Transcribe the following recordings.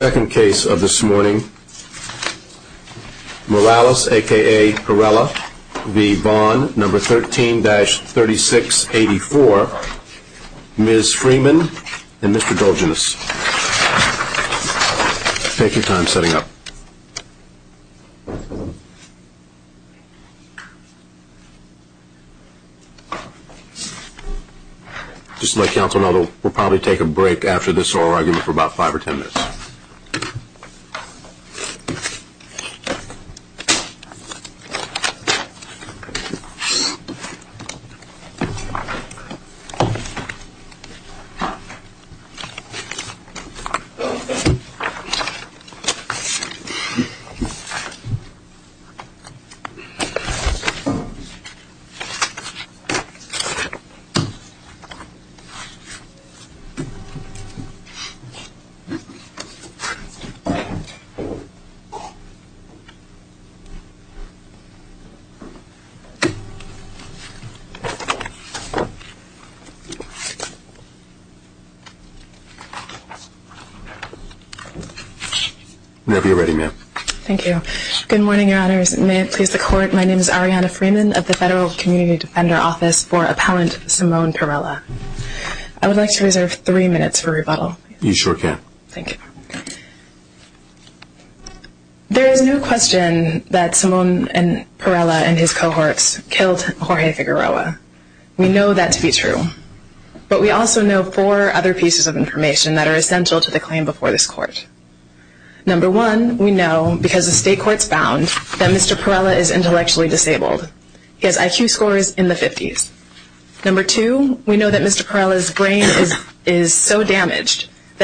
number 13-3684, Ms. Freeman, and Mr. Dolginus. Take your time setting up. Just to let counsel know, we'll probably take a break after this oral argument for about a minute. Whenever you're ready, ma'am. Thank you. Good morning, Your Honors. May it please the Court, my name is Ariana Freeman of the Federal Community Defender Office for Appellant Simone Perella. I would like to reserve three minutes for rebuttal. You sure can. Thank you. There is no question that Simone Perella and his cohorts killed Jorge Figueroa. We know that to be true. But we also know four other pieces of information that are essential to the claim before this Court. Number one, we know because the state court found that Mr. Perella is intellectually disabled. He has IQ scores in the 50s. Number two, we that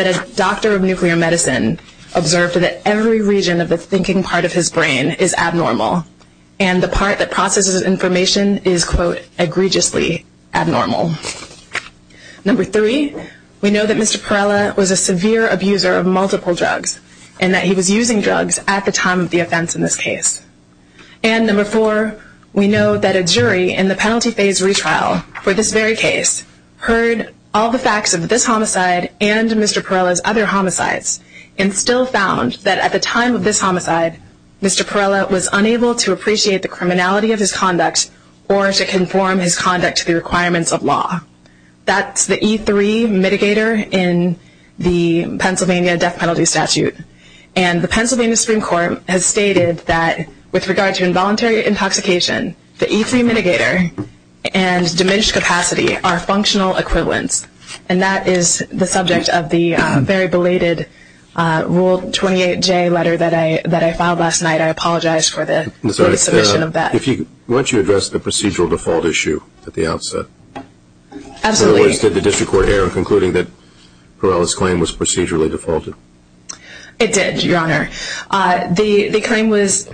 a doctor of nuclear medicine observed that every region of the thinking part of his brain is abnormal. And the part that processes information is, quote, egregiously abnormal. Number three, we know that Mr. Perella was a severe abuser of multiple drugs and that he was using drugs at the time of the offense in this case. And number four, we know that a jury in the penalty phase retrial for this very case heard all the facts of this homicide and Mr. Perella's other homicides and still found that at the time of this homicide, Mr. Perella was unable to appreciate the criminality of his conduct or to conform his conduct to the requirements of law. That's the E3 mitigator in the Pennsylvania death penalty statute. And the Pennsylvania Supreme Court has stated that with regard to involuntary intoxication, the E3 mitigator and diminished capacity are functional equivalents. And that is the subject of the very belated Rule 28J letter that I filed last night. I apologize for the submission of that. If you could, why don't you address the procedural default issue at the outset? Absolutely. In other words, did the district court error in concluding that Perella's claim was procedurally defaulted? It did, Your Honor. The claim was,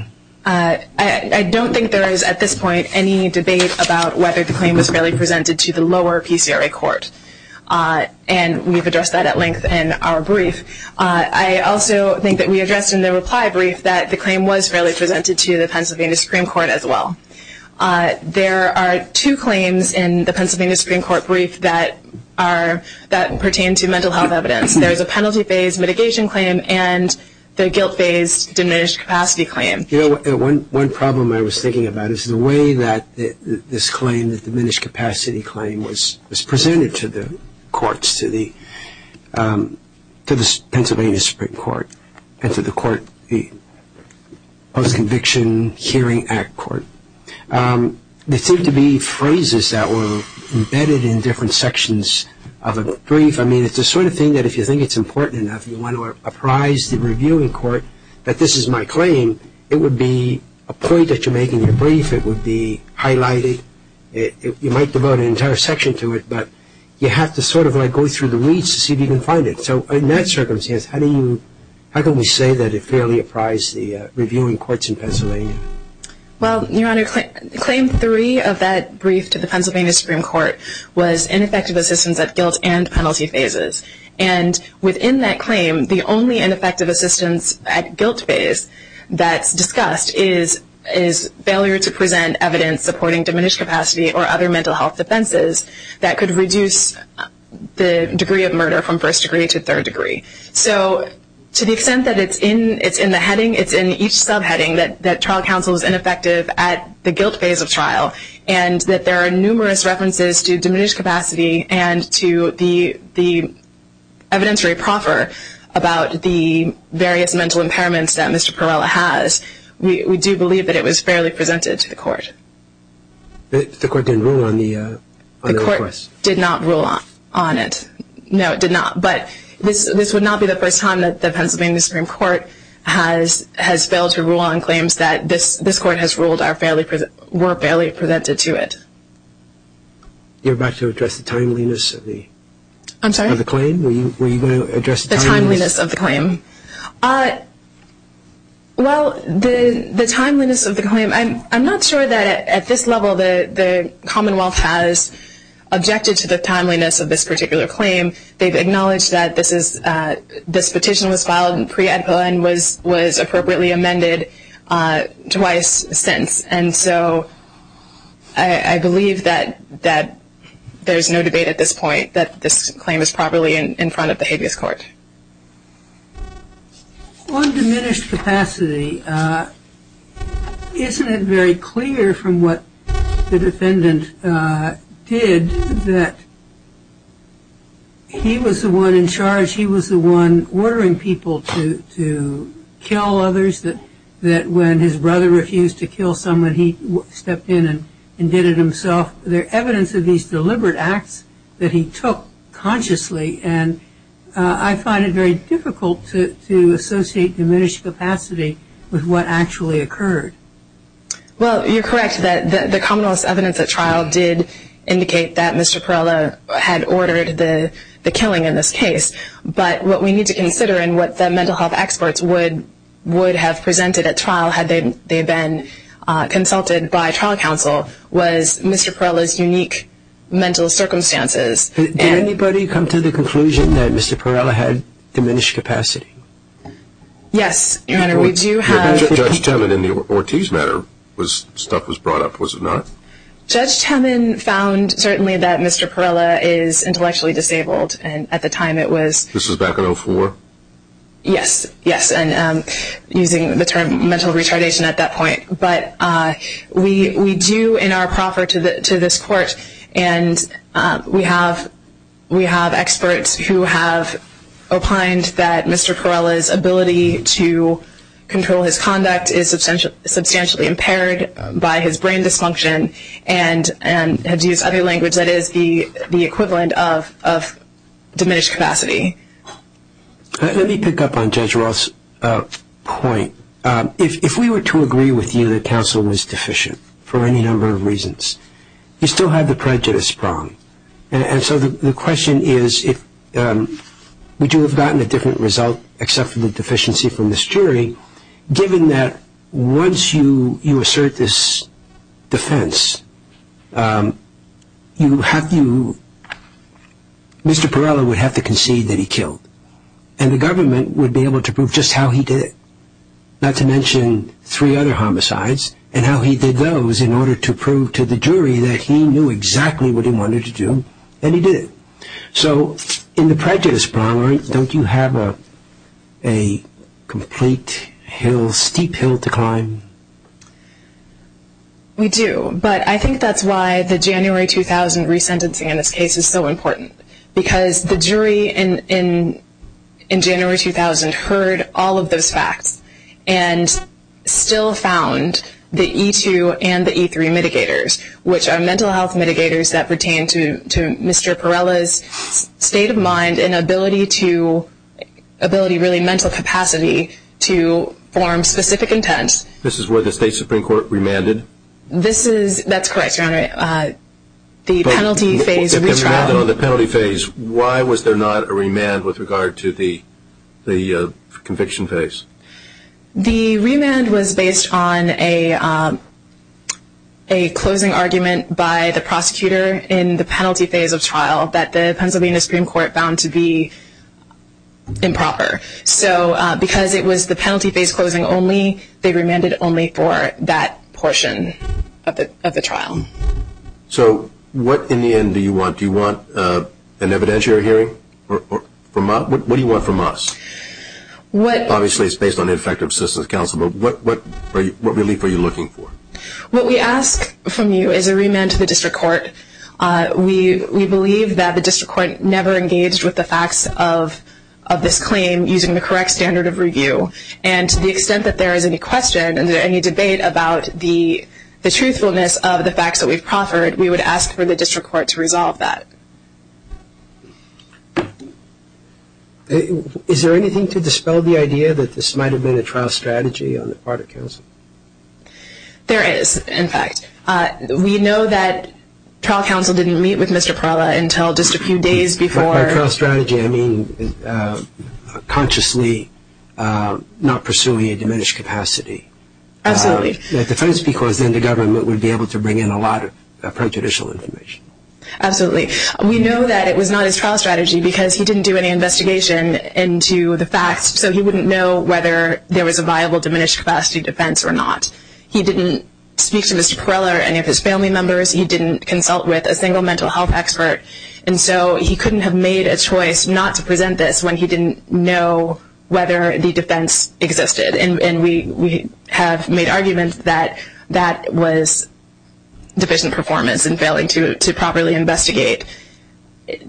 I don't think there is at this point any debate about whether the claim was fairly presented to the lower PCRA court. And we've addressed that at length in our brief. I also think that we addressed in the reply brief that the claim was fairly presented to the Pennsylvania Supreme Court as well. There are two claims in the Pennsylvania Supreme Court brief that are, that pertain to mental health evidence. There is a penalty phase mitigation claim and the guilt phase diminished capacity claim. You know, one problem I was thinking about is the way that this claim, the diminished capacity claim, was presented to the courts, to the Pennsylvania Supreme Court and to the court, the Post-Conviction Hearing Act Court. There seemed to be phrases that were embedded in different sections of a brief. I mean, it's the sort of thing that if you think it's important enough, you want to apprise the reviewing court that this is my claim, it would be a point that you make in your brief. It would be highlighted. You might devote an entire section to it, but you have to sort of like go through the weeds to see if you can find it. So in that circumstance, how do you, how can we say that it fairly apprised the reviewing courts in Pennsylvania? Well, Your Honor, claim three of that brief to the Pennsylvania Supreme Court was ineffective assistance at guilt and penalty phases. And within that claim, the only ineffective assistance at guilt phase that's discussed is failure to present evidence supporting diminished capacity or other mental health defenses that could reduce the degree of murder from first degree to third degree. So to the extent that it's in, it's in the heading, it's in each subheading that trial counsel is ineffective at the guilt phase of trial and that there are numerous references to diminished capacity and to the evidenceary proffer about the various mental impairments that Mr. Perrella has, we do believe that it was fairly presented to the court. The court didn't rule on the request? The court did not rule on it. No, it did not. But this would not be the first time that the Pennsylvania Supreme Court has failed to rule on claims that this court has ruled were fairly presented to it. You're about to address the timeliness of the claim? I'm sorry? Were you going to address the timeliness? The timeliness of the claim. Well, the timeliness of the claim, I'm not sure that at this level the Commonwealth has objected to the timeliness of this particular claim. They've acknowledged that this is, this petition was filed pre-edpa and was appropriately amended twice since. And so I believe that there's no debate at this point that this claim is properly in front of the habeas court. On diminished capacity, isn't it very clear from what the defendant did that he was the one in charge, he was the one ordering people to kill others, that when his brother refused to kill someone, he stepped in and did it himself? Is there evidence of these deliberate acts that he took consciously? And I find it very difficult to associate diminished capacity with what actually occurred. Well, you're correct that the Commonwealth's evidence at trial did indicate that Mr. Perrella had ordered the killing in this case. But what we need to consider and what the mental health experts would have presented at trial had they been consulted by trial counsel was Mr. Perrella's unique mental circumstances. Did anybody come to the conclusion that Mr. Perrella had diminished capacity? Yes, Your Honor, we do have... Judge Temin in the Ortiz matter, stuff was brought up, was it not? Judge Temin found certainly that Mr. Perrella is intellectually disabled and at the time it was... This was back in 04? Yes, yes, and using the term mental retardation at that point. But we do in our proffer to this court and we have experts who have opined that Mr. Perrella's ability to control his conduct is substantially impaired by his brain dysfunction and to use other language that is the equivalent of diminished capacity. Let me pick up on Judge Roth's point. If we were to agree with you that counsel was deficient for any number of reasons, you still have the prejudice problem. And so the question is would you have gotten a different result given that once you assert this defense, Mr. Perrella would have to concede that he killed. And the government would be able to prove just how he did it, not to mention three other homicides and how he did those in order to prove to the jury that he knew exactly what he wanted to do and he did it. So in the prejudice problem, don't you have a complete hill, steep hill to climb? We do, but I think that's why the January 2000 resentencing in this case is so important because the jury in January 2000 heard all of those facts and still found the E2 and the E3 mitigators, which are mental health mitigators that pertain to Mr. Perrella's state of mind and ability to really mental capacity to form specific intent. This is where the State Supreme Court remanded? That's correct, Your Honor. The penalty phase retrial. Why was there not a remand with regard to the conviction phase? The remand was based on a closing argument by the prosecutor in the penalty phase of trial that the Pennsylvania Supreme Court found to be improper. So because it was the penalty phase closing only, they remanded only for that portion of the trial. So what in the end do you want? Do you want an evidentiary hearing? What do you want from us? Obviously it's based on the effective assistance of counsel, but what relief are you looking for? What we ask from you is a remand to the district court. We believe that the district court never engaged with the facts of this claim using the correct standard of review, and to the extent that there is any question and any debate about the truthfulness of the facts that we've proffered, we would ask for the district court to resolve that. Is there anything to dispel the idea that this might have been a trial strategy on the part of counsel? There is, in fact. We know that trial counsel didn't meet with Mr. Parla until just a few days before. By trial strategy, I mean consciously not pursuing a diminished capacity. Absolutely. That's because then the government would be able to bring in a lot of prejudicial information. Absolutely. We know that it was not his trial strategy because he didn't do any investigation into the facts, so he wouldn't know whether there was a viable diminished capacity defense or not. He didn't speak to Mr. Parla or any of his family members. He didn't consult with a single mental health expert, and so he couldn't have made a choice not to present this when he didn't know whether the defense existed. And we have made arguments that that was deficient performance in failing to properly investigate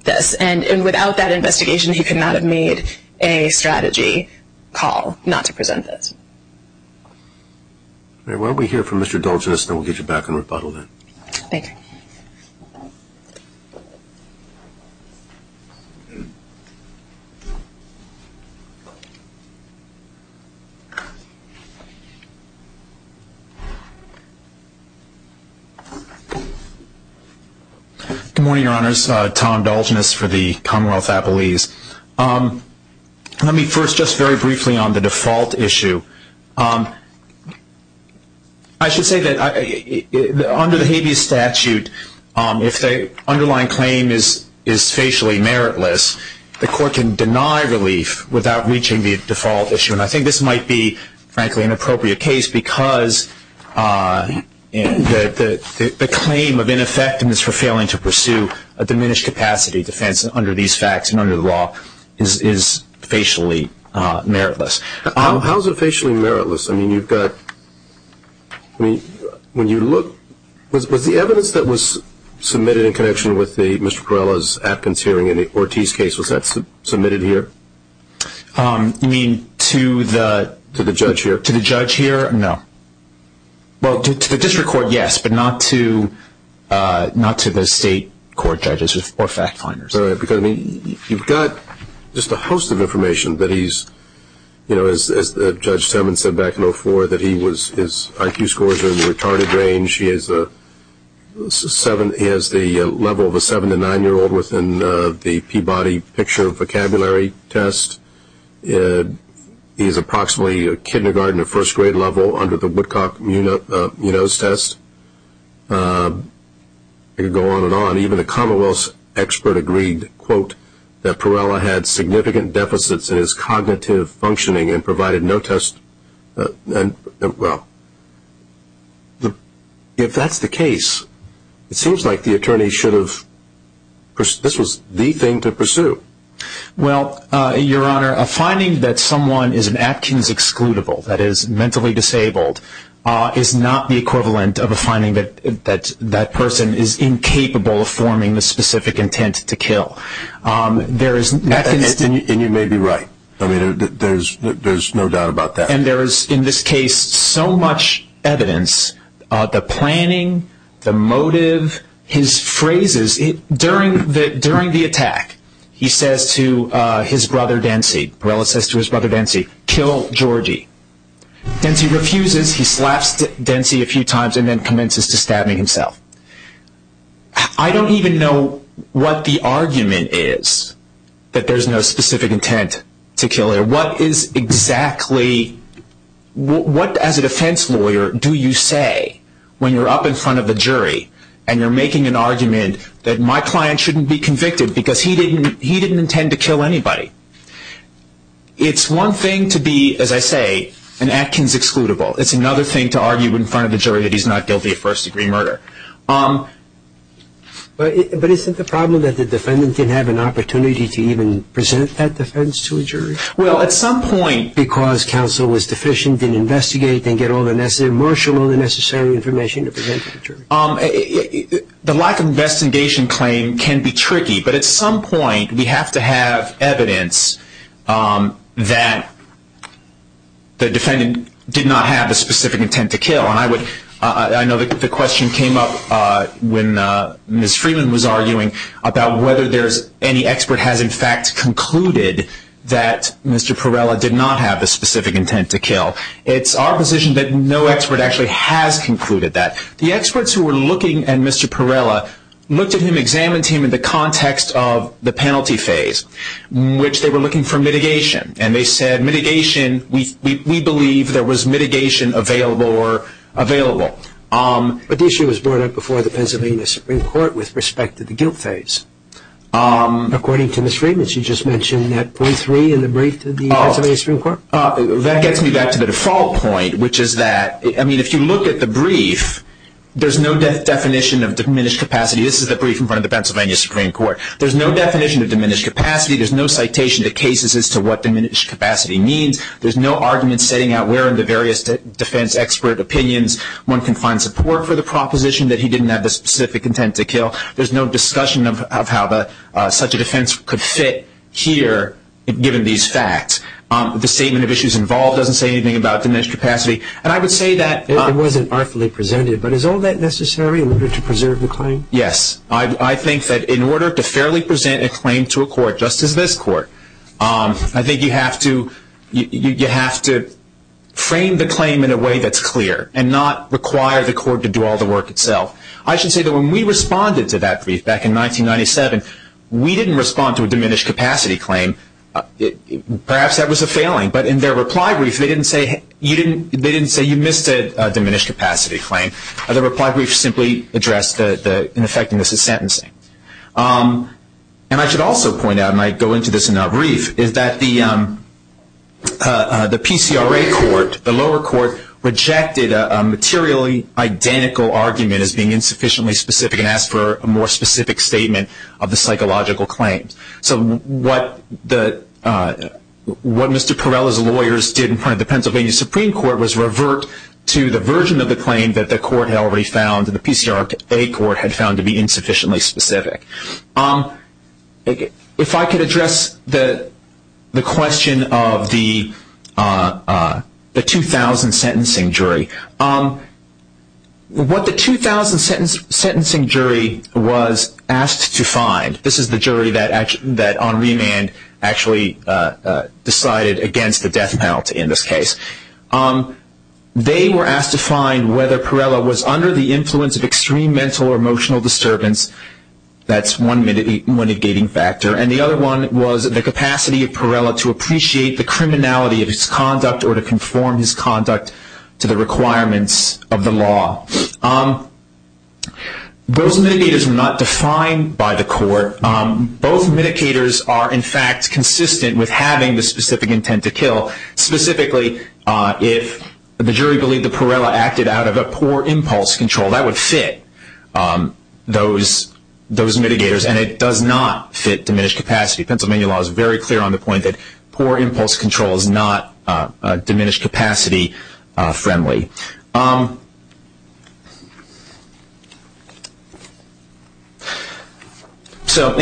this. And without that investigation, he could not have made a strategy call not to present this. All right. Why don't we hear from Mr. Dulgeness, and then we'll get you back on rebuttal then. Thank you. Good morning, Your Honors. Tom Dulgeness for the Commonwealth Appellees. Let me first just very briefly on the default issue. I should say that under the habeas statute, if the underlying claim is facially meritless, the court can deny relief without reaching the default issue, and I think this might be, frankly, an appropriate case because the claim of ineffectiveness for failing to pursue a diminished capacity defense under these facts and under the law is facially meritless. How is it facially meritless? I mean, you've got, when you look, was the evidence that was submitted in connection with Mr. Parla's Atkins hearing in the Ortiz case, was that submitted here? You mean to the judge here? To the judge here, no. Well, to the district court, yes, but not to the state court judges or fact finders. Because, I mean, you've got just a host of information that he's, you know, as Judge Simmons said back in 2004, that his IQ scores are in the retarded range. He has the level of a seven- to nine-year-old within the Peabody picture of vocabulary test. He's approximately a kindergarten to first grade level under the Woodcock Munoz test. You could go on and on. Even a Commonwealth expert agreed, quote, that Parla had significant deficits in his cognitive functioning and provided no test. Well, if that's the case, it seems like the attorney should have, this was the thing to pursue. Well, Your Honor, a finding that someone is an Atkins excludable, that is mentally disabled, is not the equivalent of a finding that that person is incapable of forming the specific intent to kill. And you may be right. I mean, there's no doubt about that. And there is, in this case, so much evidence, the planning, the motive, his phrases. During the attack, he says to his brother, Densey, Parla says to his brother, Densey, kill Georgie. Densey refuses. He slaps Densey a few times and then commences to stab me himself. I don't even know what the argument is that there's no specific intent to kill. What is exactly, what as a defense lawyer do you say when you're up in front of a jury and you're making an argument that my client shouldn't be convicted because he didn't intend to kill anybody? It's one thing to be, as I say, an Atkins excludable. It's another thing to argue in front of the jury that he's not guilty of first-degree murder. But isn't the problem that the defendant didn't have an opportunity to even present that defense to a jury? Well, at some point. Because counsel was deficient, didn't investigate, didn't get all the necessary information to present to the jury. The lack of investigation claim can be tricky, but at some point we have to have evidence that the defendant did not have a specific intent to kill. And I know the question came up when Ms. Freeman was arguing about whether any expert has, in fact, concluded that Mr. Perella did not have a specific intent to kill. It's our position that no expert actually has concluded that. The experts who were looking at Mr. Perella looked at him, examined him in the context of the penalty phase, in which they were looking for mitigation. And they said mitigation, we believe there was mitigation available or available. But the issue was brought up before the Pennsylvania Supreme Court with respect to the guilt phase. According to Ms. Freeman, she just mentioned that point three in the brief to the Pennsylvania Supreme Court? That gets me back to the default point, which is that, I mean, if you look at the brief, there's no definition of diminished capacity. This is the brief in front of the Pennsylvania Supreme Court. There's no definition of diminished capacity. There's no citation to cases as to what diminished capacity means. There's no argument setting out where in the various defense expert opinions one can find support for the proposition that he didn't have the specific intent to kill. There's no discussion of how such a defense could fit here, given these facts. The statement of issues involved doesn't say anything about diminished capacity. And I would say that. It wasn't artfully presented, but is all that necessary in order to preserve the claim? Yes. I think that in order to fairly present a claim to a court just as this court, I think you have to frame the claim in a way that's clear and not require the court to do all the work itself. I should say that when we responded to that brief back in 1997, we didn't respond to a diminished capacity claim. Perhaps that was a failing. But in their reply brief, they didn't say you missed a diminished capacity claim. The reply brief simply addressed the ineffectiveness of sentencing. And I should also point out, and I go into this in that brief, is that the PCRA court, the lower court, rejected a materially identical argument as being insufficiently specific and asked for a more specific statement of the psychological claims. So what Mr. Perella's lawyers did in front of the Pennsylvania Supreme Court was revert to the version of the claim that the court had already found, that the PCRA court had found to be insufficiently specific. If I could address the question of the 2,000 sentencing jury. What the 2,000 sentencing jury was asked to find, this is the jury that on remand actually decided against the death penalty in this case. They were asked to find whether Perella was under the influence of extreme mental or emotional disturbance. That's one mitigating factor. And the other one was the capacity of Perella to appreciate the criminality of his conduct or to conform his conduct to the requirements of the law. Those mitigators were not defined by the court. Both mitigators are, in fact, consistent with having the specific intent to kill. Specifically, if the jury believed that Perella acted out of a poor impulse control, that would fit those mitigators, and it does not fit diminished capacity. Pennsylvania law is very clear on the point that poor impulse control is not diminished capacity friendly. In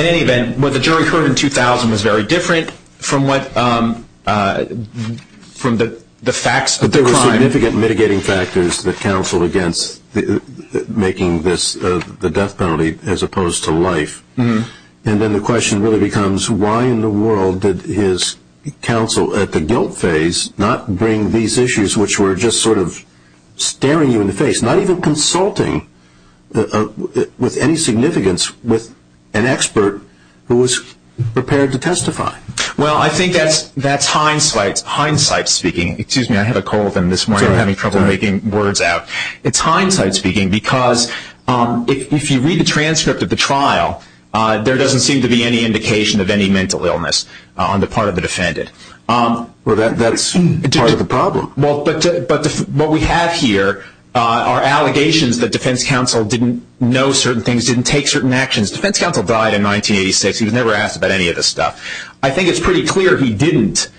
any event, what the jury heard in 2,000 was very different from the facts of the crime. But there were significant mitigating factors that counseled against making the death penalty as opposed to life. And then the question really becomes why in the world did his counsel at the guilt phase not bring these issues which were just sort of staring you in the face, not even consulting with any significance with an expert who was prepared to testify? Well, I think that's hindsight speaking. Excuse me, I had a cold and this morning I'm having trouble making words out. It's hindsight speaking because if you read the transcript of the trial, there doesn't seem to be any indication of any mental illness on the part of the defendant. Well, that's part of the problem. Well, but what we have here are allegations that defense counsel didn't know certain things, didn't take certain actions. Defense counsel died in 1986. He was never asked about any of this stuff. I think it's pretty clear he didn't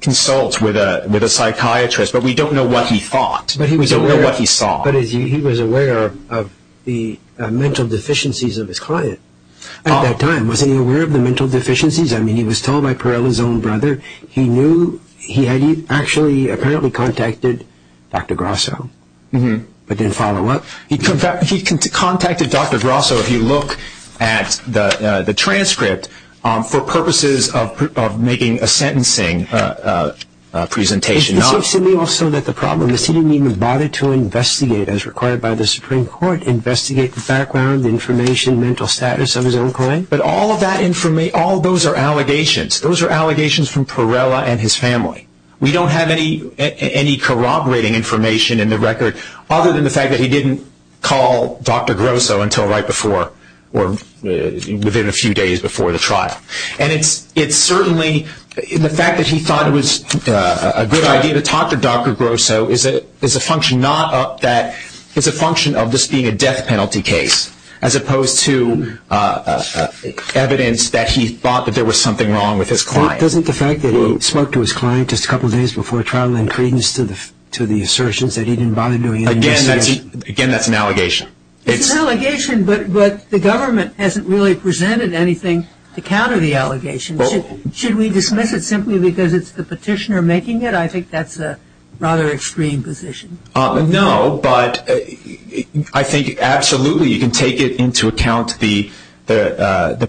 consult with a psychiatrist, but we don't know what he thought. We don't know what he saw. But he was aware of the mental deficiencies of his client at that time. Was he aware of the mental deficiencies? I mean, he was told by Perella's own brother. He knew he had actually apparently contacted Dr. Grosso, but didn't follow up. He contacted Dr. Grosso, if you look at the transcript, for purposes of making a sentencing presentation. Is this simply also that the problem is he didn't even bother to investigate as required by the Supreme Court, investigate the background, the information, mental status of his own client? But all of that information, all of those are allegations. Those are allegations from Perella and his family. We don't have any corroborating information in the record other than the fact that he didn't call Dr. Grosso until right before or within a few days before the trial. And it's certainly the fact that he thought it was a good idea to talk to Dr. Grosso is a function of this being a death penalty case as opposed to evidence that he thought that there was something wrong with his client. Doesn't the fact that he spoke to his client just a couple of days before trial then credence to the assertions that he didn't bother doing any investigation? Again, that's an allegation. It's an allegation, but the government hasn't really presented anything to counter the allegation. Should we dismiss it simply because it's the petitioner making it? I think that's a rather extreme position. No, but I think absolutely you can take into account the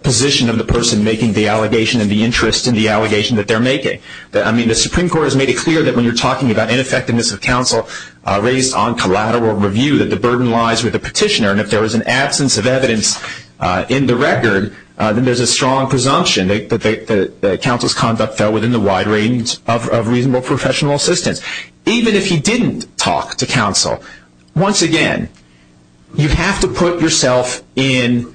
position of the person making the allegation and the interest in the allegation that they're making. I mean, the Supreme Court has made it clear that when you're talking about ineffectiveness of counsel raised on collateral review that the burden lies with the petitioner. And if there was an absence of evidence in the record, then there's a strong presumption that counsel's conduct fell within the wide range of reasonable professional assistance. Even if he didn't talk to counsel, once again, you have to put yourself in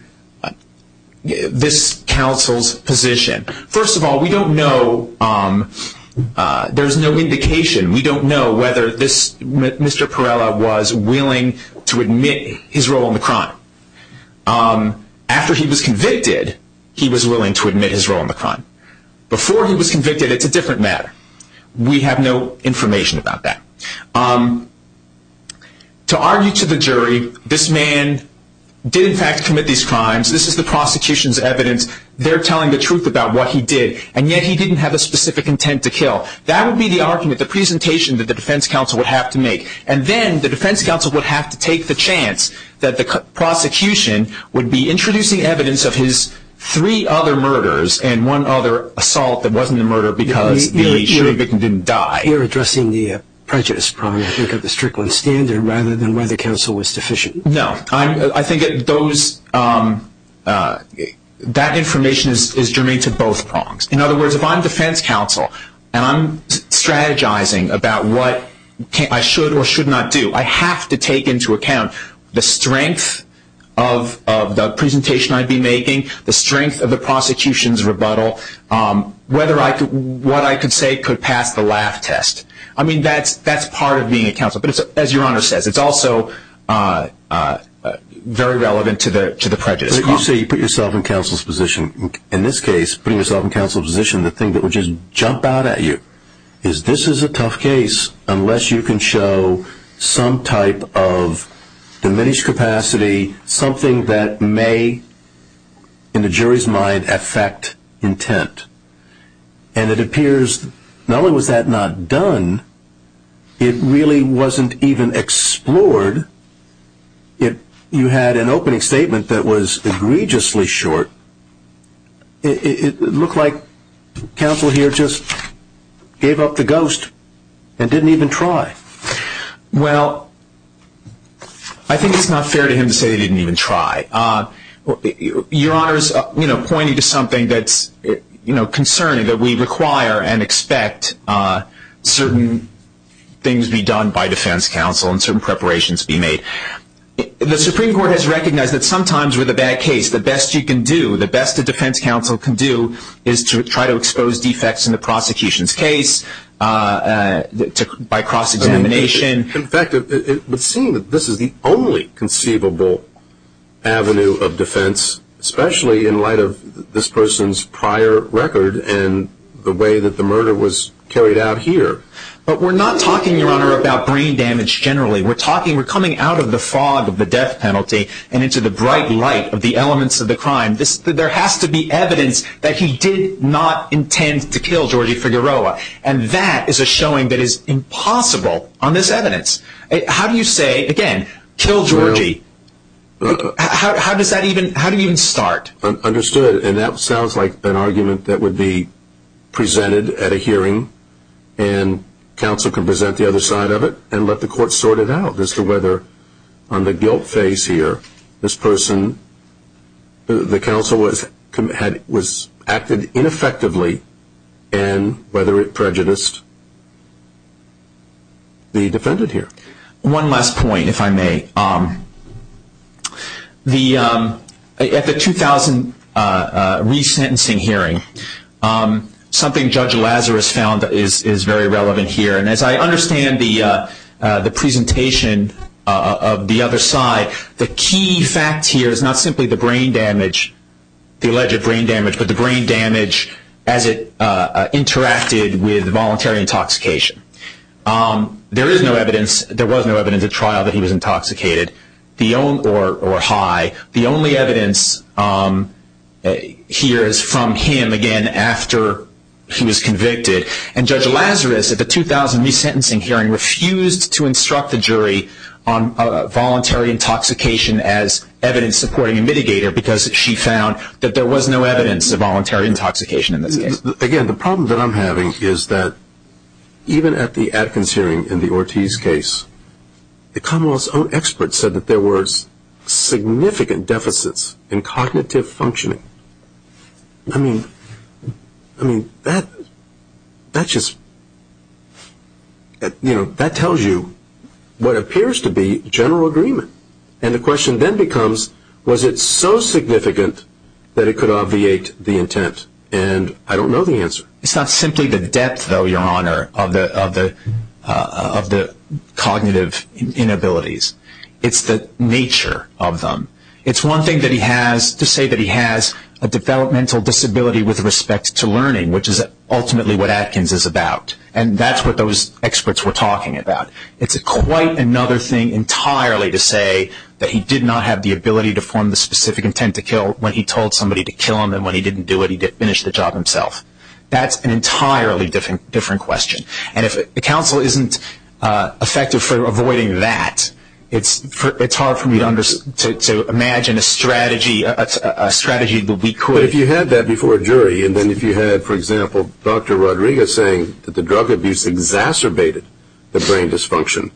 this counsel's position. First of all, we don't know. There's no indication. We don't know whether Mr. Perella was willing to admit his role in the crime. After he was convicted, he was willing to admit his role in the crime. Before he was convicted, it's a different matter. We have no information about that. To argue to the jury, this man did in fact commit these crimes. This is the prosecution's evidence. They're telling the truth about what he did. And yet he didn't have a specific intent to kill. That would be the argument, the presentation that the defense counsel would have to make. And then the defense counsel would have to take the chance that the prosecution would be introducing evidence of his three other murders and one other assault that wasn't a murder because the jury victim didn't die. You're addressing the prejudice problem, I think, of the Strickland standard rather than whether counsel was deficient. No. I think that information is germane to both prongs. In other words, if I'm defense counsel and I'm strategizing about what I should or should not do, I have to take into account the strength of the presentation I'd be making, the strength of the prosecution's rebuttal, what I could say could pass the laugh test. That's part of being a counsel. But as your Honor says, it's also very relevant to the prejudice problem. You say you put yourself in counsel's position. In this case, putting yourself in counsel's position, the thing that would just jump out at you is this is a tough case unless you can show some type of diminished capacity, something that may, in the jury's mind, affect intent. And it appears not only was that not done, it really wasn't even explored. You had an opening statement that was egregiously short. It looked like counsel here just gave up the ghost and didn't even try. Well, I think it's not fair to him to say he didn't even try. Your Honor is pointing to something that's concerning, that we require and expect certain things be done by defense counsel and certain preparations be made. The Supreme Court has recognized that sometimes with a bad case, the best you can do, is to try to expose defects in the prosecution's case by cross-examination. In fact, it would seem that this is the only conceivable avenue of defense, especially in light of this person's prior record and the way that the murder was carried out here. But we're not talking, Your Honor, about brain damage generally. We're coming out of the fog of the death penalty and into the bright light of the elements of the crime. There has to be evidence that he did not intend to kill Georgie Figueroa. And that is a showing that is impossible on this evidence. How do you say, again, kill Georgie? How does that even start? Understood. And that sounds like an argument that would be presented at a hearing, and counsel can present the other side of it and let the court sort it out as to whether on the guilt phase here, this person, the counsel, was acted ineffectively and whether it prejudiced the defendant here. One last point, if I may. At the 2000 resentencing hearing, something Judge Lazarus found is very relevant here. And as I understand the presentation of the other side, the key fact here is not simply the brain damage, the alleged brain damage, but the brain damage as it interacted with voluntary intoxication. There is no evidence, there was no evidence at trial that he was intoxicated or high. The only evidence here is from him, again, after he was convicted. And Judge Lazarus at the 2000 resentencing hearing refused to instruct the jury on voluntary intoxication as evidence supporting a mitigator because she found that there was no evidence of voluntary intoxication in this case. Again, the problem that I'm having is that even at the Adkins hearing in the Ortiz case, the Commonwealth's own experts said that there were significant deficits in cognitive functioning. I mean, that just, you know, that tells you what appears to be general agreement. And the question then becomes, was it so significant that it could obviate the intent? And I don't know the answer. It's not simply the depth, though, Your Honor, of the cognitive inabilities. It's the nature of them. It's one thing that he has to say that he has a developmental disability with respect to learning, which is ultimately what Adkins is about, and that's what those experts were talking about. It's quite another thing entirely to say that he did not have the ability to form the specific intent to kill when he told somebody to kill him, and when he didn't do it, he finished the job himself. That's an entirely different question. And if counsel isn't effective for avoiding that, it's hard for me to imagine a strategy that we could. But if you had that before a jury, and then if you had, for example, Dr. Rodriguez saying that the drug abuse exacerbated the brain dysfunction,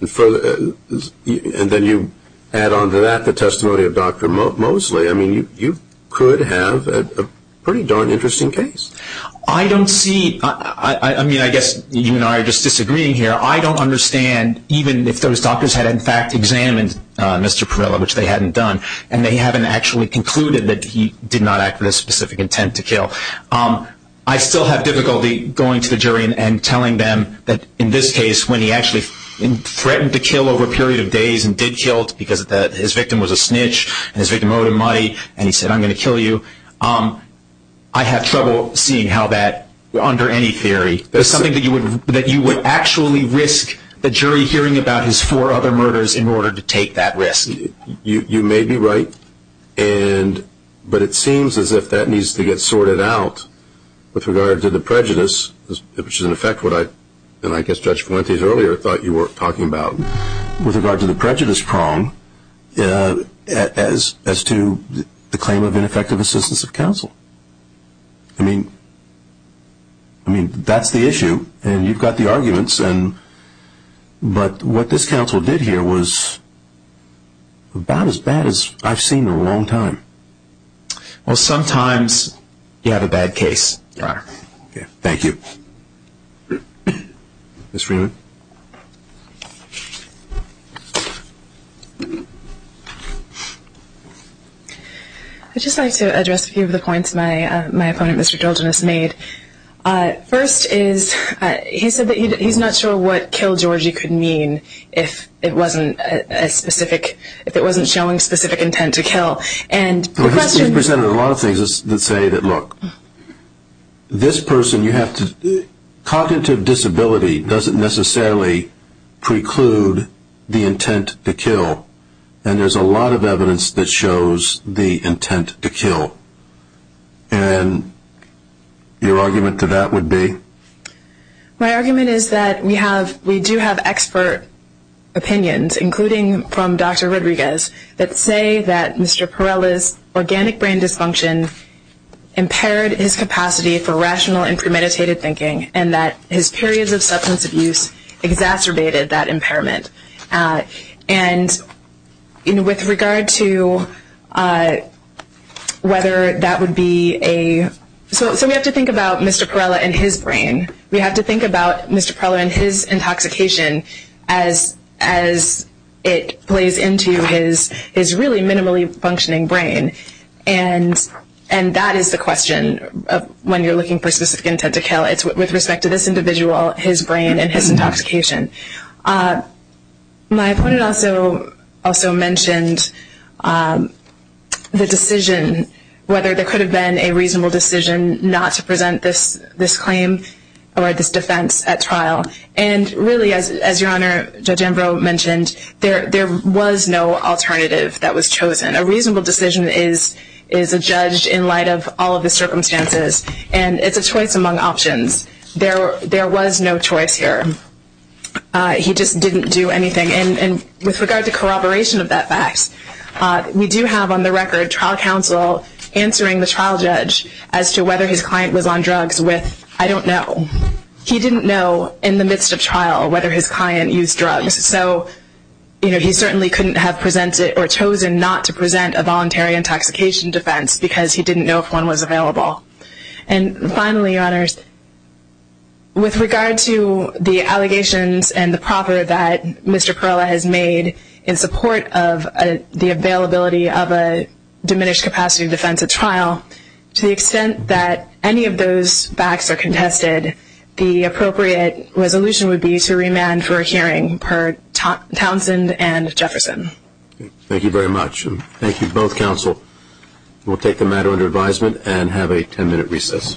and then you add on to that the testimony of Dr. Mosley, I mean, you could have a pretty darn interesting case. I don't see – I mean, I guess you and I are just disagreeing here. I don't understand even if those doctors had, in fact, examined Mr. Parrella, which they hadn't done, and they haven't actually concluded that he did not act with a specific intent to kill. I still have difficulty going to the jury and telling them that in this case, when he actually threatened to kill over a period of days and did kill because his victim was a snitch and his victim owed him money and he said, I'm going to kill you, I have trouble seeing how that, under any theory, is something that you would actually risk the jury hearing about his four other murders in order to take that risk. You may be right, but it seems as if that needs to get sorted out with regard to the prejudice, which is in effect what I – and I guess Judge Fuentes earlier thought you were talking about. With regard to the prejudice prong as to the claim of ineffective assistance of counsel. I mean, that's the issue, and you've got the arguments, but what this counsel did here was about as bad as I've seen in a long time. Well, sometimes you have a bad case, Your Honor. Thank you. Ms. Freeman. I'd just like to address a few of the points my opponent, Mr. Georgianus, made. First is he said that he's not sure what kill Georgie could mean if it wasn't a specific – if it wasn't showing specific intent to kill. He presented a lot of things that say that, look, this person you have to – cognitive disability doesn't necessarily preclude the intent to kill, and there's a lot of evidence that shows the intent to kill. And your argument to that would be? My argument is that we do have expert opinions, including from Dr. Rodriguez, that say that Mr. Perrella's organic brain dysfunction impaired his capacity for rational and premeditated thinking and that his periods of substance abuse exacerbated that impairment. And with regard to whether that would be a – so we have to think about Mr. Perrella and his brain. We have to think about Mr. Perrella and his intoxication as it plays into his really minimally functioning brain. And that is the question when you're looking for specific intent to kill. It's with respect to this individual, his brain, and his intoxication. My opponent also mentioned the decision, whether there could have been a reasonable decision not to present this claim. Or this defense at trial. And really, as your Honor, Judge Ambrose mentioned, there was no alternative that was chosen. A reasonable decision is a judge in light of all of the circumstances. And it's a choice among options. There was no choice here. He just didn't do anything. And with regard to corroboration of that fact, we do have on the record trial counsel answering the trial judge as to whether his client was on drugs with, I don't know. He didn't know in the midst of trial whether his client used drugs. So he certainly couldn't have presented or chosen not to present a voluntary intoxication defense because he didn't know if one was available. And finally, Your Honors, with regard to the allegations and the proper that Mr. Perrella has made in support of the availability of a diminished capacity defense at trial, to the extent that any of those facts are contested, the appropriate resolution would be to remand for a hearing per Townsend and Jefferson. Thank you very much. Thank you, both counsel. We'll take the matter under advisement and have a ten-minute recess.